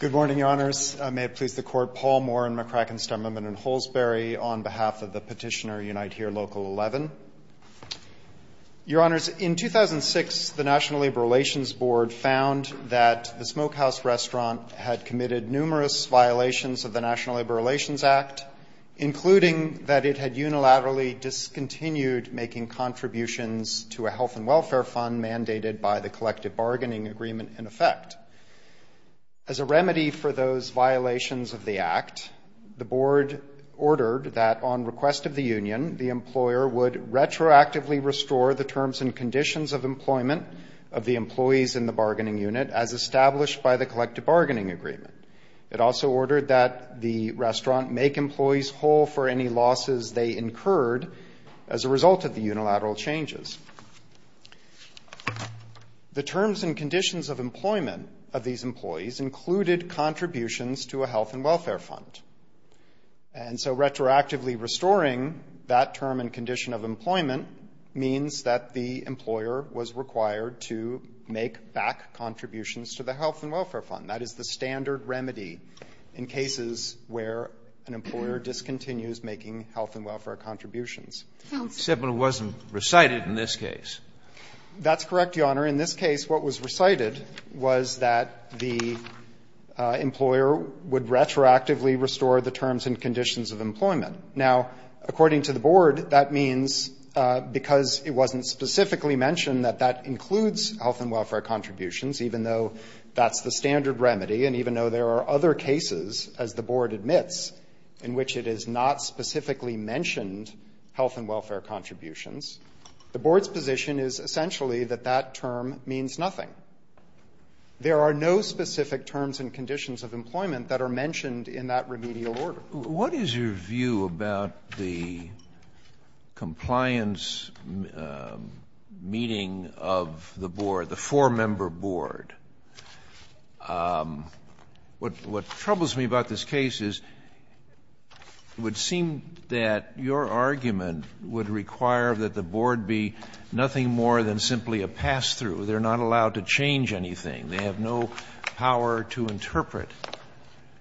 Good morning, Your Honors. May it please the Court, Paul Moore in McCracken, Stoneman, and Holsberry on behalf of the petitioner Unite Here Local 11. Your Honors, in 2006 the National Labor Relations Board found that the Smokehouse Restaurant had committed numerous violations of the National Labor Relations Act, including that it had unilaterally discontinued making contributions to a health and welfare fund mandated by the Collective Bargaining Agreement in effect. As a remedy for those violations of the Act, the Board ordered that on request of employment of the employees in the bargaining unit as established by the Collective Bargaining Agreement. It also ordered that the restaurant make employees whole for any losses they incurred as a result of the unilateral changes. The terms and conditions of employment of these employees included contributions to a health and welfare fund. And so retroactively restoring that term and condition of employment means that the employer was required to make back contributions to the health and welfare fund. That is the standard remedy in cases where an employer discontinues making health and welfare contributions. Sotomayor, except it wasn't recited in this case. That's correct, Your Honor. In this case, what was recited was that the employer would retroactively restore the terms and conditions of employment. Now, according to the Board, that means because it wasn't specifically mentioned that that includes health and welfare contributions, even though that's the standard remedy, and even though there are other cases, as the Board admits, in which it is not specifically mentioned health and welfare contributions, the Board's position is essentially that that term means nothing. There are no specific terms and conditions of employment that are mentioned in that remedial order. What is your view about the compliance meeting of the Board, the four-member Board? What troubles me about this case is it would seem that your argument would require that the Board be nothing more than simply a pass-through. They're not allowed to change anything. They have no power to interpret.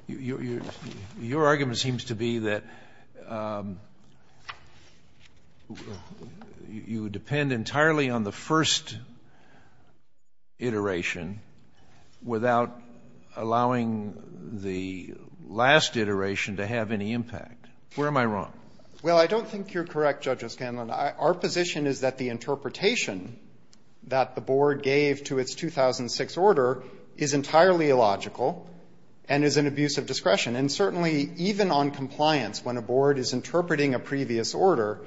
Your argument seems to be that you would depend entirely on the first iteration without allowing the last iteration to have any impact. Where am I wrong? Well, I don't think you're correct, Judge O'Scanlan. Our position is that the interpretation that the Board gave to its 2006 order is entirely illogical and is an abuse of discretion. And certainly, even on compliance, when a Board is interpreting a previous order,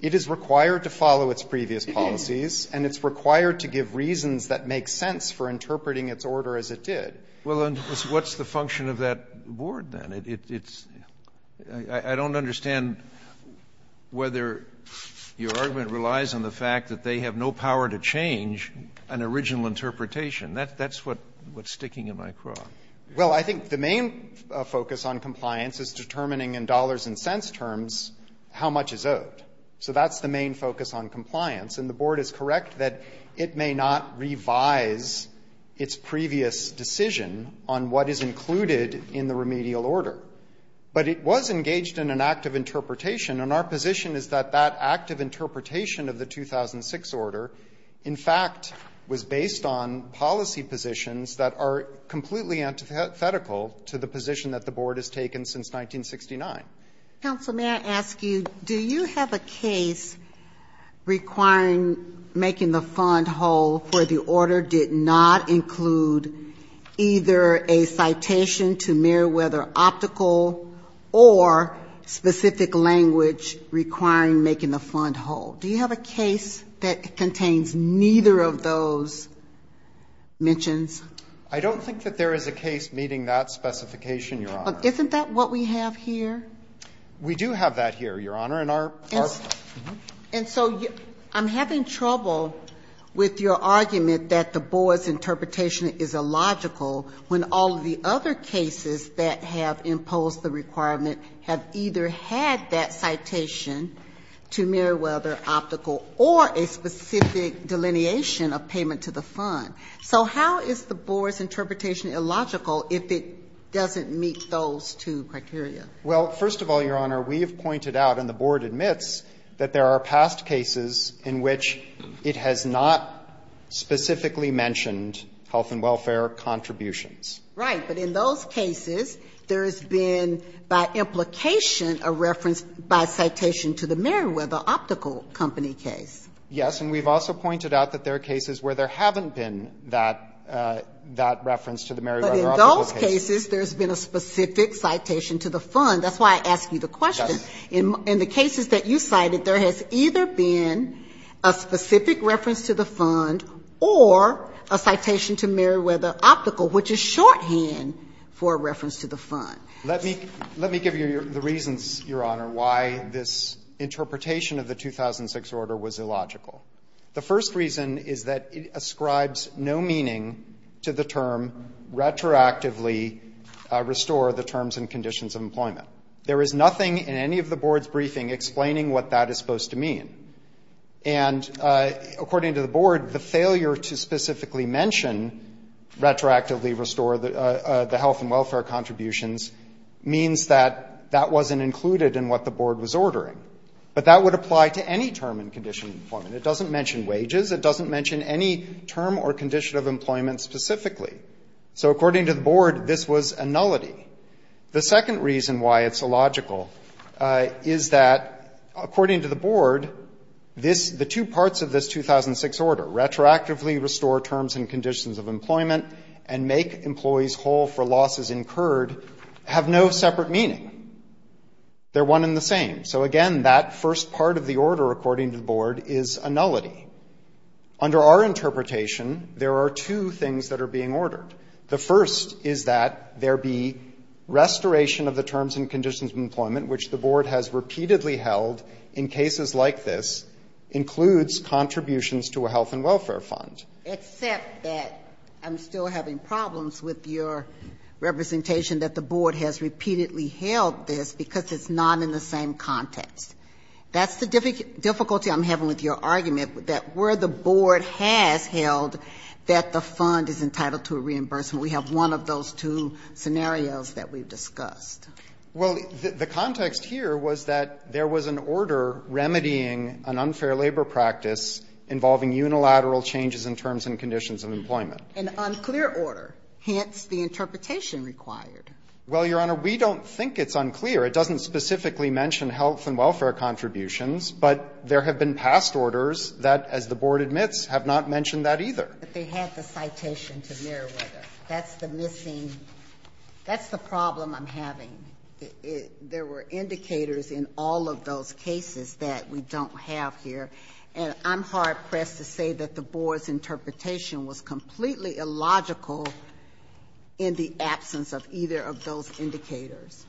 it is required to follow its previous policies and it's required to give reasons that make sense for interpreting its order as it did. Well, then, what's the function of that Board, then? It's – I don't understand whether your argument relies on the fact that they have no power to change an original interpretation. That's what's sticking in my craw. Well, I think the main focus on compliance is determining in dollars and cents terms how much is owed. So that's the main focus on compliance. And the Board is correct that it may not revise its previous decision on what is included in the remedial order. But it was engaged in an act of interpretation, and our position is that that act of that are completely antithetical to the position that the Board has taken since 1969. Counsel, may I ask you, do you have a case requiring making the fund whole for the order did not include either a citation to Meriwether Optical or specific language requiring making the fund whole? Do you have a case that contains neither of those mentions? I don't think that there is a case meeting that specification, Your Honor. Isn't that what we have here? We do have that here, Your Honor, and our – our – And so I'm having trouble with your argument that the Board's interpretation is illogical when all of the other cases that have imposed the requirement have either had that citation to Meriwether Optical or a specific delineation of payment to the fund. So how is the Board's interpretation illogical if it doesn't meet those two criteria? Well, first of all, Your Honor, we have pointed out, and the Board admits, that there are past cases in which it has not specifically mentioned health and welfare contributions. Right. But in those cases, there has been, by implication, a reference by citation to the Meriwether Optical Company case. Yes. And we've also pointed out that there are cases where there haven't been that – that reference to the Meriwether Optical case. But in those cases, there's been a specific citation to the fund. That's why I ask you the question. Yes. Or a citation to Meriwether Optical, which is shorthand for a reference to the fund. Let me give you the reasons, Your Honor, why this interpretation of the 2006 order was illogical. The first reason is that it ascribes no meaning to the term, retroactively restore the terms and conditions of employment. There is nothing in any of the Board's briefing explaining what that is supposed to mean. And according to the Board, the failure to specifically mention retroactively restore the health and welfare contributions means that that wasn't included in what the Board was ordering. But that would apply to any term and condition of employment. It doesn't mention wages. It doesn't mention any term or condition of employment specifically. So according to the Board, this was a nullity. The second reason why it's illogical is that, according to the Board, this the two parts of this 2006 order, retroactively restore terms and conditions of employment and make employees whole for losses incurred, have no separate meaning. They're one and the same. So again, that first part of the order, according to the Board, is a nullity. Under our interpretation, there are two things that are being ordered. The first is that there be restoration of the terms and conditions of employment, which the Board has repeatedly held in cases like this, includes contributions to a health and welfare fund. Except that I'm still having problems with your representation that the Board has repeatedly held this because it's not in the same context. That's the difficulty I'm having with your argument, that where the Board has held that the fund is entitled to a reimbursement. We have one of those two scenarios that we've discussed. Well, the context here was that there was an order remedying an unfair labor practice involving unilateral changes in terms and conditions of employment. An unclear order, hence the interpretation required. Well, Your Honor, we don't think it's unclear. It doesn't specifically mention health and welfare contributions, but there have been past orders that, as the Board admits, have not mentioned that either. But they had the citation to Meriwether. That's the missing, that's the problem I'm having. There were indicators in all of those cases that we don't have here. And I'm hard-pressed to say that the Board's interpretation was completely illogical in the absence of either of those indicators.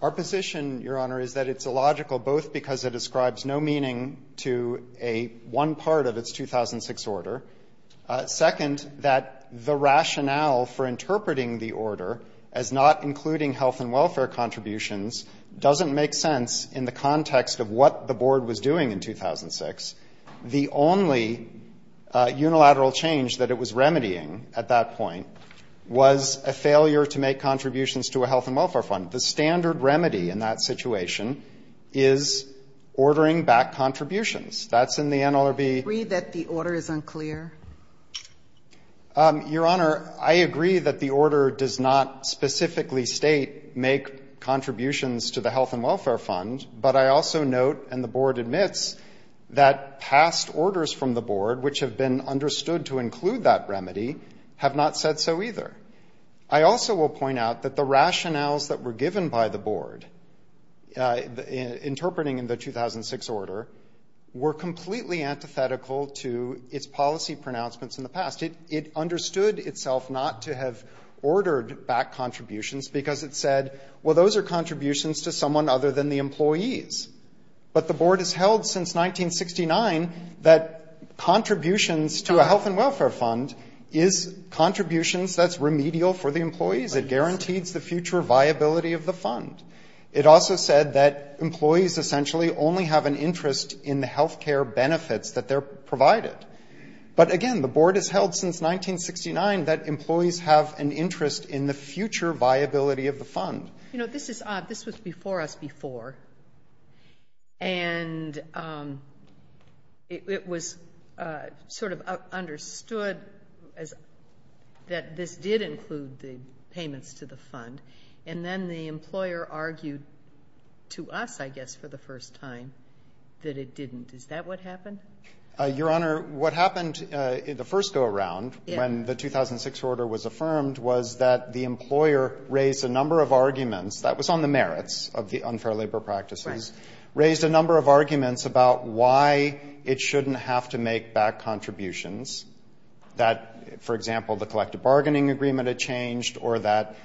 Our position, Your Honor, is that it's illogical both because it describes no meaning to one part of its 2006 order. Second, that the rationale for interpreting the order as not including health and welfare contributions doesn't make sense in the context of what the Board was doing in 2006. The only unilateral change that it was remedying at that point was a failure to make contributions to a health and welfare fund. The standard remedy in that situation is ordering back contributions. That's in the NLRB. I agree that the order is unclear. Your Honor, I agree that the order does not specifically state make contributions to the health and welfare fund, but I also note, and the Board admits, that past orders from the Board, which have been understood to include that remedy, have not said so either. I also will point out that the rationales that were given by the Board interpreting the 2006 order were completely antithetical to its policy pronouncements in the past. It understood itself not to have ordered back contributions because it said, well, those are contributions to someone other than the employees. But the Board has held since 1969 that contributions to a health and welfare fund is contributions that's remedial for the employees. It guarantees the future viability of the fund. It also said that employees essentially only have an interest in the health care benefits that they're provided. But again, the Board has held since 1969 that employees have an interest in the future viability of the fund. You know, this was before us before. And it was sort of understood that this did include the payments to the fund. And then the employer argued to us, I guess, for the first time, that it didn't. Is that what happened? Your Honor, what happened in the first go-around when the 2006 order was affirmed was that the employer raised a number of arguments that was on the merits of the unfair labor practices. Raised a number of arguments about why it shouldn't have to make back contributions. That, for example, the collective bargaining agreement had changed or that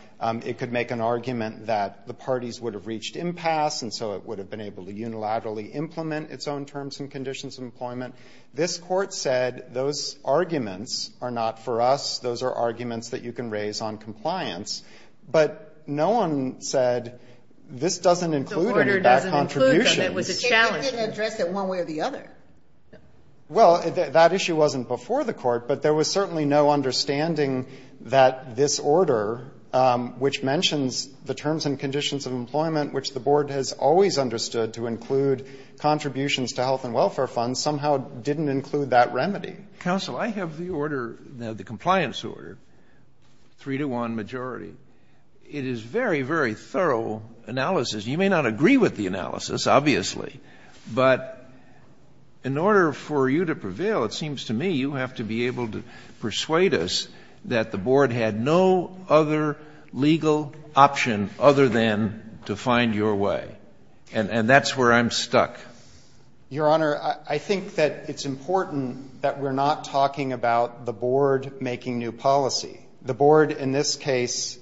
it could make an argument that the parties would have reached impasse. And so it would have been able to unilaterally implement its own terms and conditions of employment. This Court said those arguments are not for us. Those are arguments that you can raise on compliance. But no one said this doesn't include any back contributions. The order doesn't include them. It was a challenge. It didn't address it one way or the other. Well, that issue wasn't before the Court. But there was certainly no understanding that this order, which mentions the terms and conditions of employment, which the Board has always understood to include contributions to health and welfare funds, somehow didn't include that remedy. Counsel, I have the order, the compliance order, three-to-one majority. It is very, very thorough analysis. You may not agree with the analysis, obviously. But in order for you to prevail, it seems to me you have to be able to persuade us that the Board had no other legal option other than to find your way. And that's where I'm stuck. Your Honor, I think that it's important that we're not talking about the Board making new policy. The Board, in this case,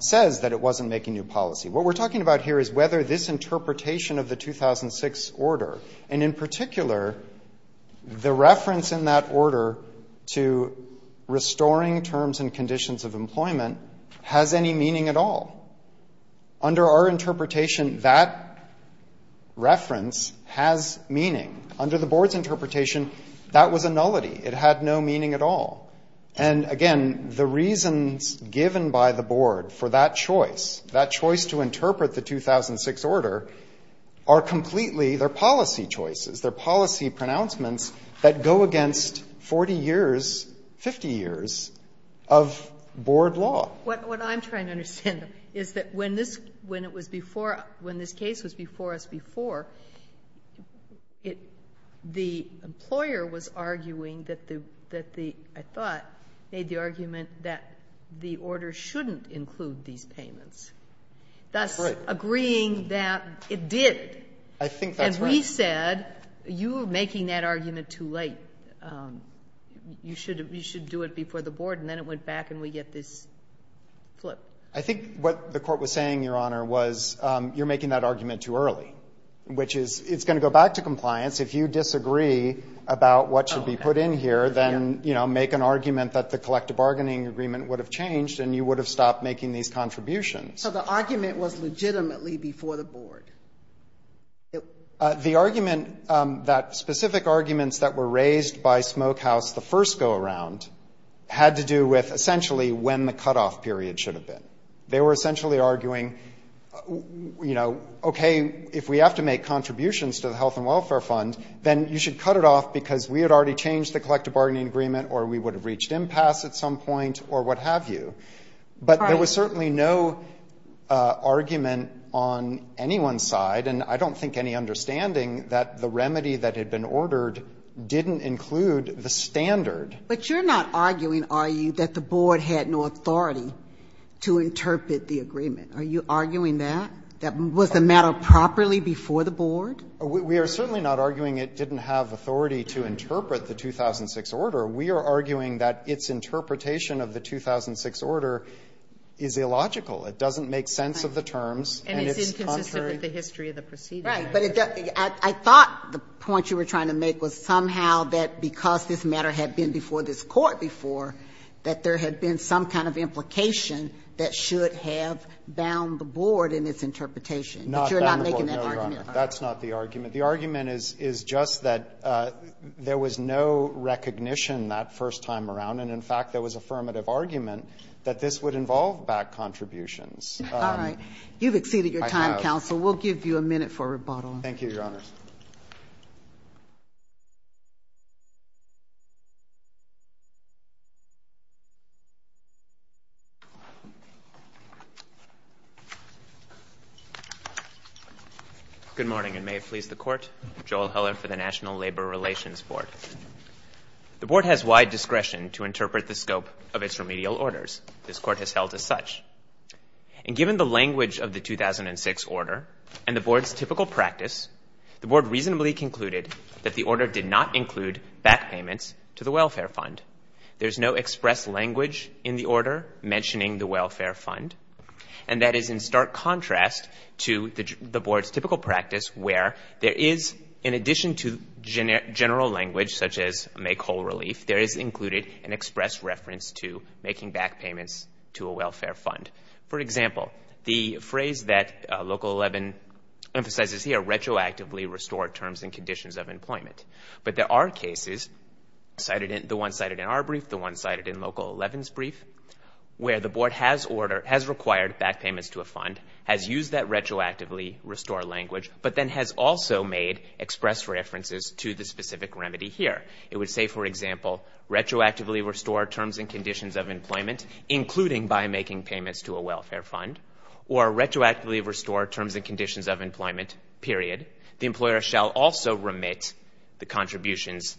says that it wasn't making new policy. What we're talking about here is whether this interpretation of the 2006 order, and in particular, the reference in that order to restoring terms and conditions of employment, has any meaning at all. Under our interpretation, that reference has meaning. Under the Board's interpretation, that was a nullity. It had no meaning at all. And again, the reasons given by the Board for that choice, that choice to interpret the 2006 order, are completely their policy choices, their policy pronouncements that go against 40 years, 50 years of Board law. What I'm trying to understand is that when this case was before us before, the employer was arguing that the, I thought, made the argument that the order shouldn't include these payments. That's agreeing that it did. I think that's right. And we said, you're making that argument too late. You should do it before the Board. And then it went back, and we get this flip. I think what the Court was saying, Your Honor, was you're making that argument too early. Which is, it's going to go back to compliance. If you disagree about what should be put in here, then, you know, make an argument that the collective bargaining agreement would have changed and you would have stopped making these contributions. So the argument was legitimately before the Board? The argument that, specific arguments that were raised by Smokehouse the first go-around, had to do with, essentially, when the cutoff period should have been. They were essentially arguing, you know, okay, if we have to make contributions to the Health and Welfare Fund, then you should cut it off because we had already changed the collective bargaining agreement or we would have reached impasse at some point or what have you. But there was certainly no argument on anyone's side, and I don't think any understanding that the remedy that had been ordered didn't include the standard. But you're not arguing, are you, that the Board had no authority to interpret the agreement? Are you arguing that? That was the matter properly before the Board? We are certainly not arguing it didn't have authority to interpret the 2006 order. We are arguing that its interpretation of the 2006 order is illogical. It doesn't make sense of the terms. And it's inconsistent with the history of the proceedings. Right. But I thought the point you were trying to make was somehow that because this matter had been before this Court before, that there had been some kind of implication that should have bound the Board in its interpretation. Not bound the Board, no, Your Honor. That's not the argument. The argument is just that there was no recognition that first time around. And, in fact, there was affirmative argument that this would involve back contributions. All right. You've exceeded your time, counsel. We'll give you a minute for rebuttal. Thank you, Your Honor. Good morning, and may it please the Court. Joel Heller for the National Labor Relations Board. The Board has wide discretion to interpret the scope of its remedial orders. This Court has held as such. And given the language of the 2006 order and to consider the scope of its remedial orders and to consider the scope of its remedial orders the Board reasonably concluded that the order did not include back payments to the welfare fund. There's no express language in the order mentioning the welfare fund. And that is in stark contrast to the Board's typical practice where there is, in addition to general language such as make whole relief, there is included an express reference to making back payments to a welfare fund. For example, the phrase that Local 11 emphasizes here, retroactively restore terms and conditions of employment. But there are cases the one cited in our brief, the one cited in Local 11's brief where the Board has required back payments to a fund, has used that retroactively restore language, but then has also made express references to the specific remedy here. It would say, for example, retroactively restore terms and conditions of employment including by making payments to a welfare fund or retroactively restore terms and conditions of employment, period. The employer shall also remit the contributions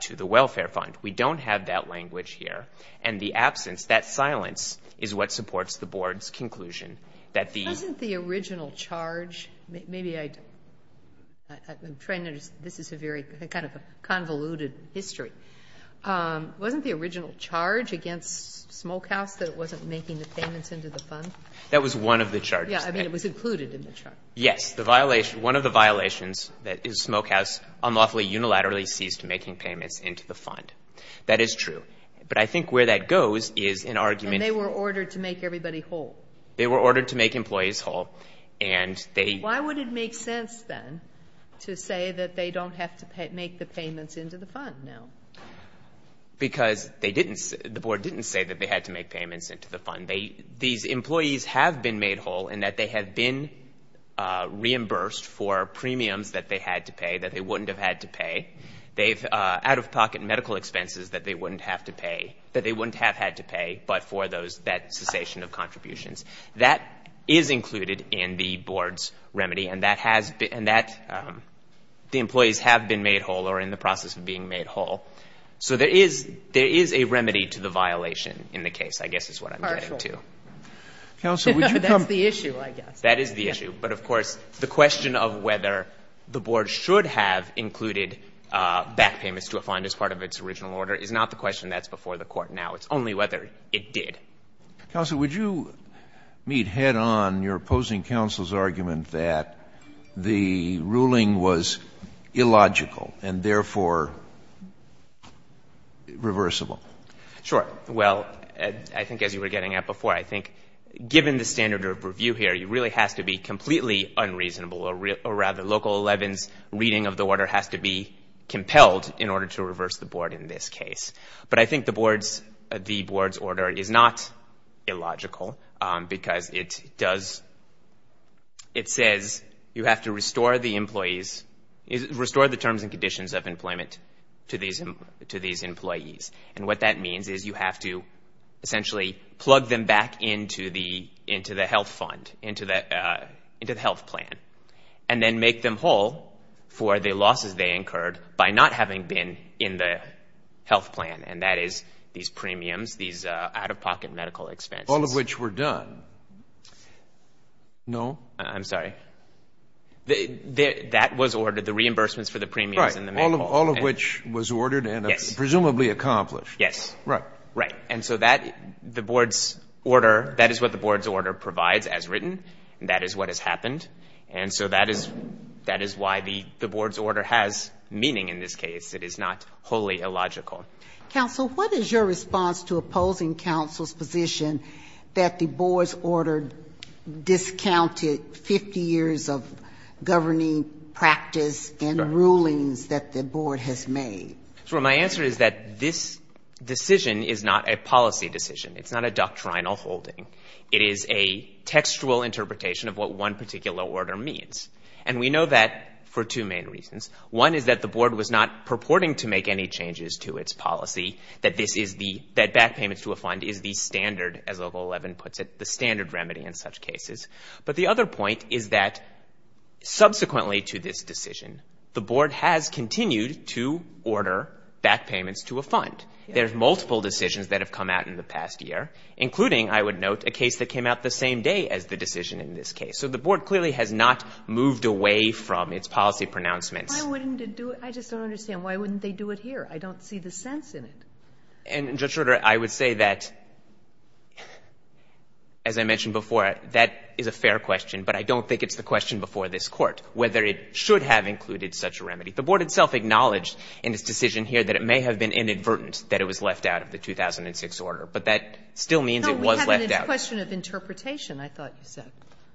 to the welfare fund. We don't have that language here. And the absence, that silence, is what supports the Board's conclusion. Wasn't the original charge maybe I I'm trying to, this is a very kind of convoluted history. Wasn't the original charge against Smokehouse that it wasn't making the payments into the fund? That was one of the charges. Yeah, I mean it was included in the charge. Yes, one of the violations is Smokehouse unlawfully unilaterally ceased making payments into the fund. That is true. But I think where that goes is an argument And they were ordered to make everybody whole. They were ordered to make employees whole. Why would it make sense then to say that they don't have to make the payments into the fund now? Because the Board didn't say that they had to make payments into the fund. These employees have been made whole in that they have been reimbursed for premiums that they had to pay that they wouldn't have had to pay. They've out-of-pocket medical expenses that they wouldn't have to pay that they wouldn't have had to pay but for that cessation of contributions. That is included in the Board's remedy. And that the employees have been made whole or are in the process of being made whole. So there is a remedy to the violation in the case, I guess is what I'm getting to. That's the issue, I guess. That is the issue, but of course the question of whether the Board should have included back payments to a fund as part of its original order is not the question that's before the Court now. It's only whether it did. Counsel, would you meet head-on your opposing counsel's argument that the ruling was illogical and therefore reversible? Sure. Well, I think as you were getting at before, I think given the standard of review here, it really has to be completely unreasonable or rather Local 11's reading of the order has to be compelled in order to reverse the Board in this case. But I think the Board's order is not illogical because it does it says you have to restore the employees restore the terms and conditions of employment to these employees. And what that means is you have to essentially plug them back into the health fund, into the health plan. And then make them whole for the losses they incurred by not having been in the health plan. And that is these premiums, these out-of-pocket medical expenses. All of which were done. No? I'm sorry. That was ordered, the reimbursements for the premiums. Right. All of which was ordered and presumably accomplished. Yes. Right. Right. And so that, the Board's order that is what the Board's order provides as written and that is what has happened. And so that is why the Board's order has meaning in this case. It is not wholly illogical. Counsel, what is your response to opposing counsel's position that the Board's order discounted 50 years of governing practice and rulings that the Board has made? So my answer is that this decision is not a policy decision. It's not a doctrinal holding. It is a textual interpretation of what one particular order means. And we know that for two main reasons. One is that the Board was not purporting to make any changes to its policy. That this is the, that as Local 11 puts it, the standard remedy in such cases. But the other point is that subsequently to this decision, the Board has continued to order back payments to a fund. There's multiple decisions that have come out in the past year. Including, I would note, a case that came out the same day as the decision in this case. So the Board clearly has not moved away from its policy pronouncements. Why wouldn't it do it? I just don't understand. Why wouldn't they do it here? I don't see the sense in it. And Judge Schroeder, I would say that, as I mentioned before, that is a fair question. But I don't think it's the question before this Court, whether it should have included such a remedy. The Board itself acknowledged in its decision here that it may have been inadvertent that it was left out of the 2006 order. But that still means it was left out. No, we have a question of interpretation, I thought you said.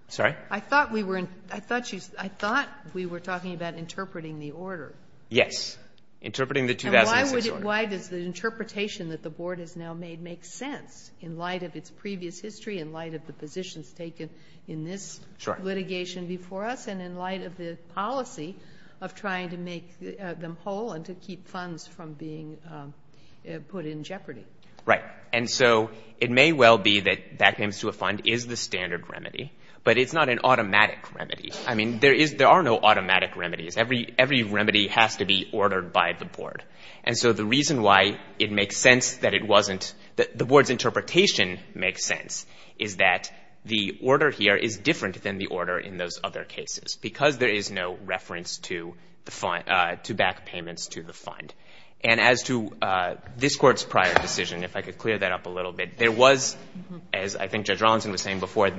Sorry? I thought we were, I thought you, I thought we were talking about interpreting the order. Yes. Interpreting the 2006 order. And why would it, why does the interpretation that the Board has now made make sense in light of its previous history, in light of the positions taken in this litigation before us, and in light of the policy of trying to make them whole and to keep funds from being put in jeopardy? Right. And so it may well be that that comes to a fund is the standard remedy, I mean, there are no automatic remedies. Every remedy has to be ordered by the Board. And so the reason why it makes sense that it wasn't that the Board's interpretation makes sense is that the order here is different than the order in those other cases, because there is no reference to the fund, to back payments to the fund. And as to this Court's prior decision, if I could clear that up a little bit, there was, as I think Judge Rawlinson was saying before,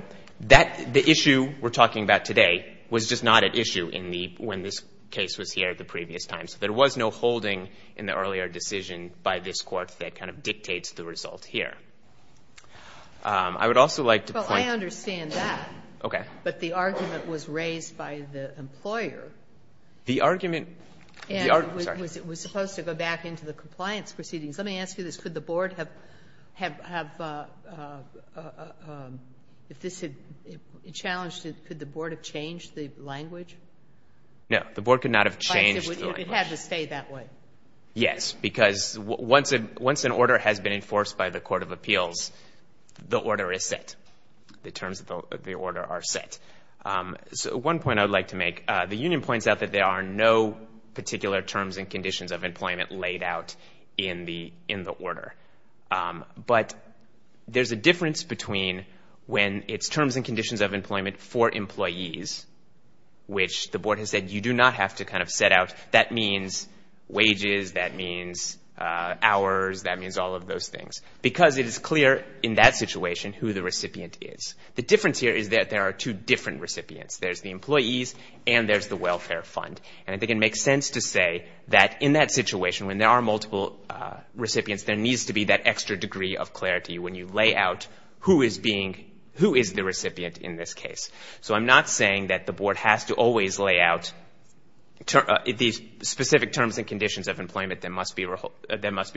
that, the issue we're talking about today was just not at issue in the, when this case was here at the previous time. So there was no holding in the earlier decision by this Court that kind of dictates the result here. I would also like to point... Well, I understand that. Okay. But the argument was raised by the employer. The argument... And it was supposed to go back into the compliance proceedings. Let me ask you this. Could the Board have if this had challenged it, could the Board have changed the language? No. The Board could not have changed the language. It would have to stay that way. Yes. Because once an order has been enforced by the Court of Appeals, the order is set. The terms of the order are set. One point I would like to make. The Union points out that there are no particular terms and conditions of employment laid out in the order. But there's a difference between when it's terms and conditions of employment for employees, which the Board has said you do not have to kind of set out that means wages, that means hours, that means all of those things. Because it is clear in that situation who the recipient is. The difference here is that there are two different recipients. There's the employees and there's the welfare fund. And I think it makes sense to say that in that situation, when there are multiple recipients, there needs to be that extra degree of clarity when you lay out who is being... So I'm not saying that the Board has to always lay out these specific terms and conditions of employment that must be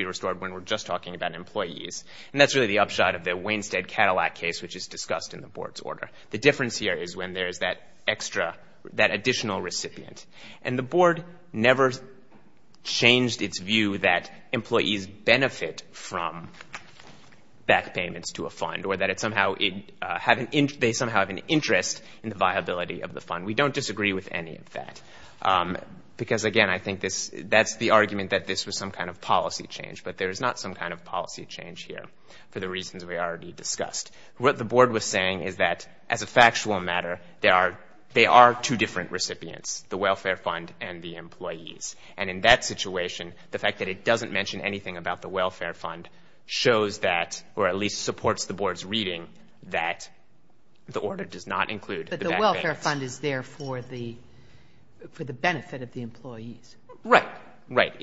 restored when we're just talking about employees. And that's really the upshot of the Wainstead-Cadillac case, which is discussed in the Board's order. The difference here is when there's that extra, that additional recipient. And the Board never changed its view that employees benefit from back payments to a fund, or that it somehow... they somehow have an interest in the viability of the fund. We don't disagree with any of that. Because, again, I think that's the argument that this was some kind of policy change. But there is not some kind of policy change here, for the reasons we already discussed. What the Board was saying is that, as a factual matter, there are two different recipients, the welfare fund and the employees. And in that situation, the fact that it doesn't mention anything about the welfare fund shows that, or at least supports the Board's reading, that the order does not include the back payments. But the welfare fund is there for the benefit of the employees. Right. Right.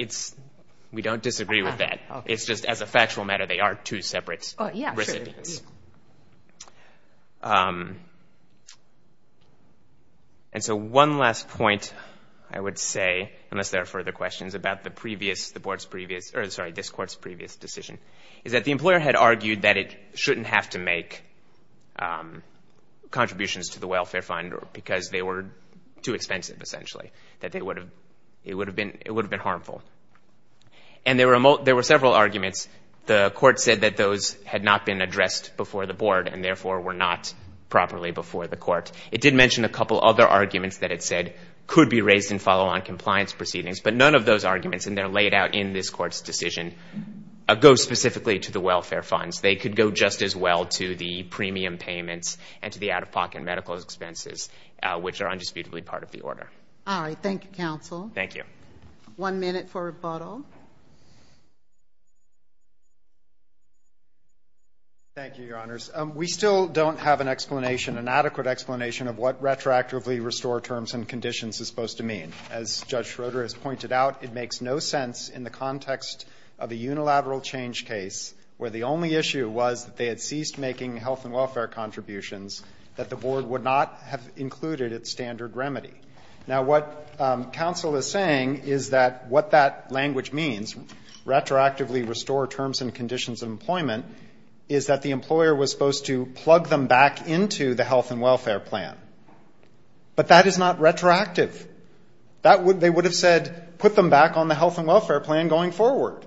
We don't disagree with that. It's just, as a factual matter, they are two separate recipients. Um... And so one last point I would say, unless there are further questions, about the previous, the Board's previous, or sorry, this Court's previous decision, is that the employees could not make contributions to the welfare fund because they were too expensive, essentially. It would have been harmful. And there were several arguments. The Court said that those had not been addressed before the Board, and therefore were not properly before the Court. It did mention a couple other arguments that it said could be raised in follow-on compliance proceedings, but none of those arguments, and they're laid out in this Court's decision, go specifically to the welfare fund, as well to the premium payments, and to the out-of-pocket medical expenses, which are indisputably part of the Order. All right. Thank you, Counsel. Thank you. One minute for rebuttal. Thank you, Your Honors. We still don't have an explanation, an adequate explanation, of what retroactively restore terms and conditions is supposed to mean. As Judge Schroeder has pointed out, it makes no sense in the context of a unilateral change case where the only issue was that they had ceased making health and welfare contributions that the Board would not have included at standard remedy. Now, what Counsel is saying is that what that language means, retroactively restore terms and conditions of employment, is that the employer was supposed to plug them back into the health and welfare plan. But that is not retroactive. They would have said, put them back on the health and welfare plan going forward.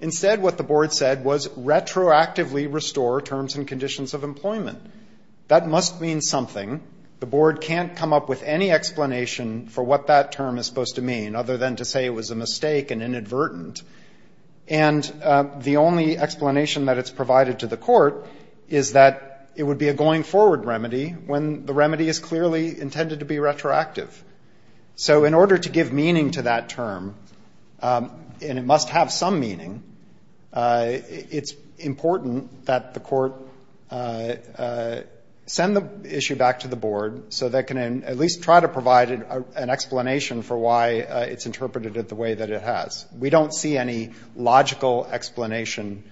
Instead, what the Board said was retroactively restore terms and conditions of employment. That must mean something. The Board can't come up with any explanation for what that term is supposed to mean, other than to say it was a mistake and inadvertent. And the only explanation that it's provided to the Court is that it would be a going-forward remedy when the remedy is clearly intended to be retroactive. So in order to give meaning to that term, and it must have some meaning, it's important that the Court send the issue back to the Board so they can at least try to provide an explanation for why it's interpreted it the way that it has. We don't see any logical explanation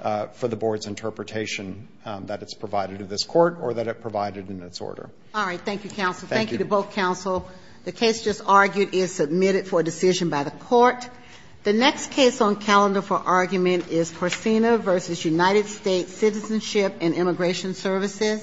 for the Board's interpretation that it's provided to this Court or that it provided in its order. All right. Thank you, Counsel. Thank you to both Counsel. The case just argued is submitted for a decision by the Court. The next case on calendar for argument is Porcina v. United States Citizenship and Immigration Services.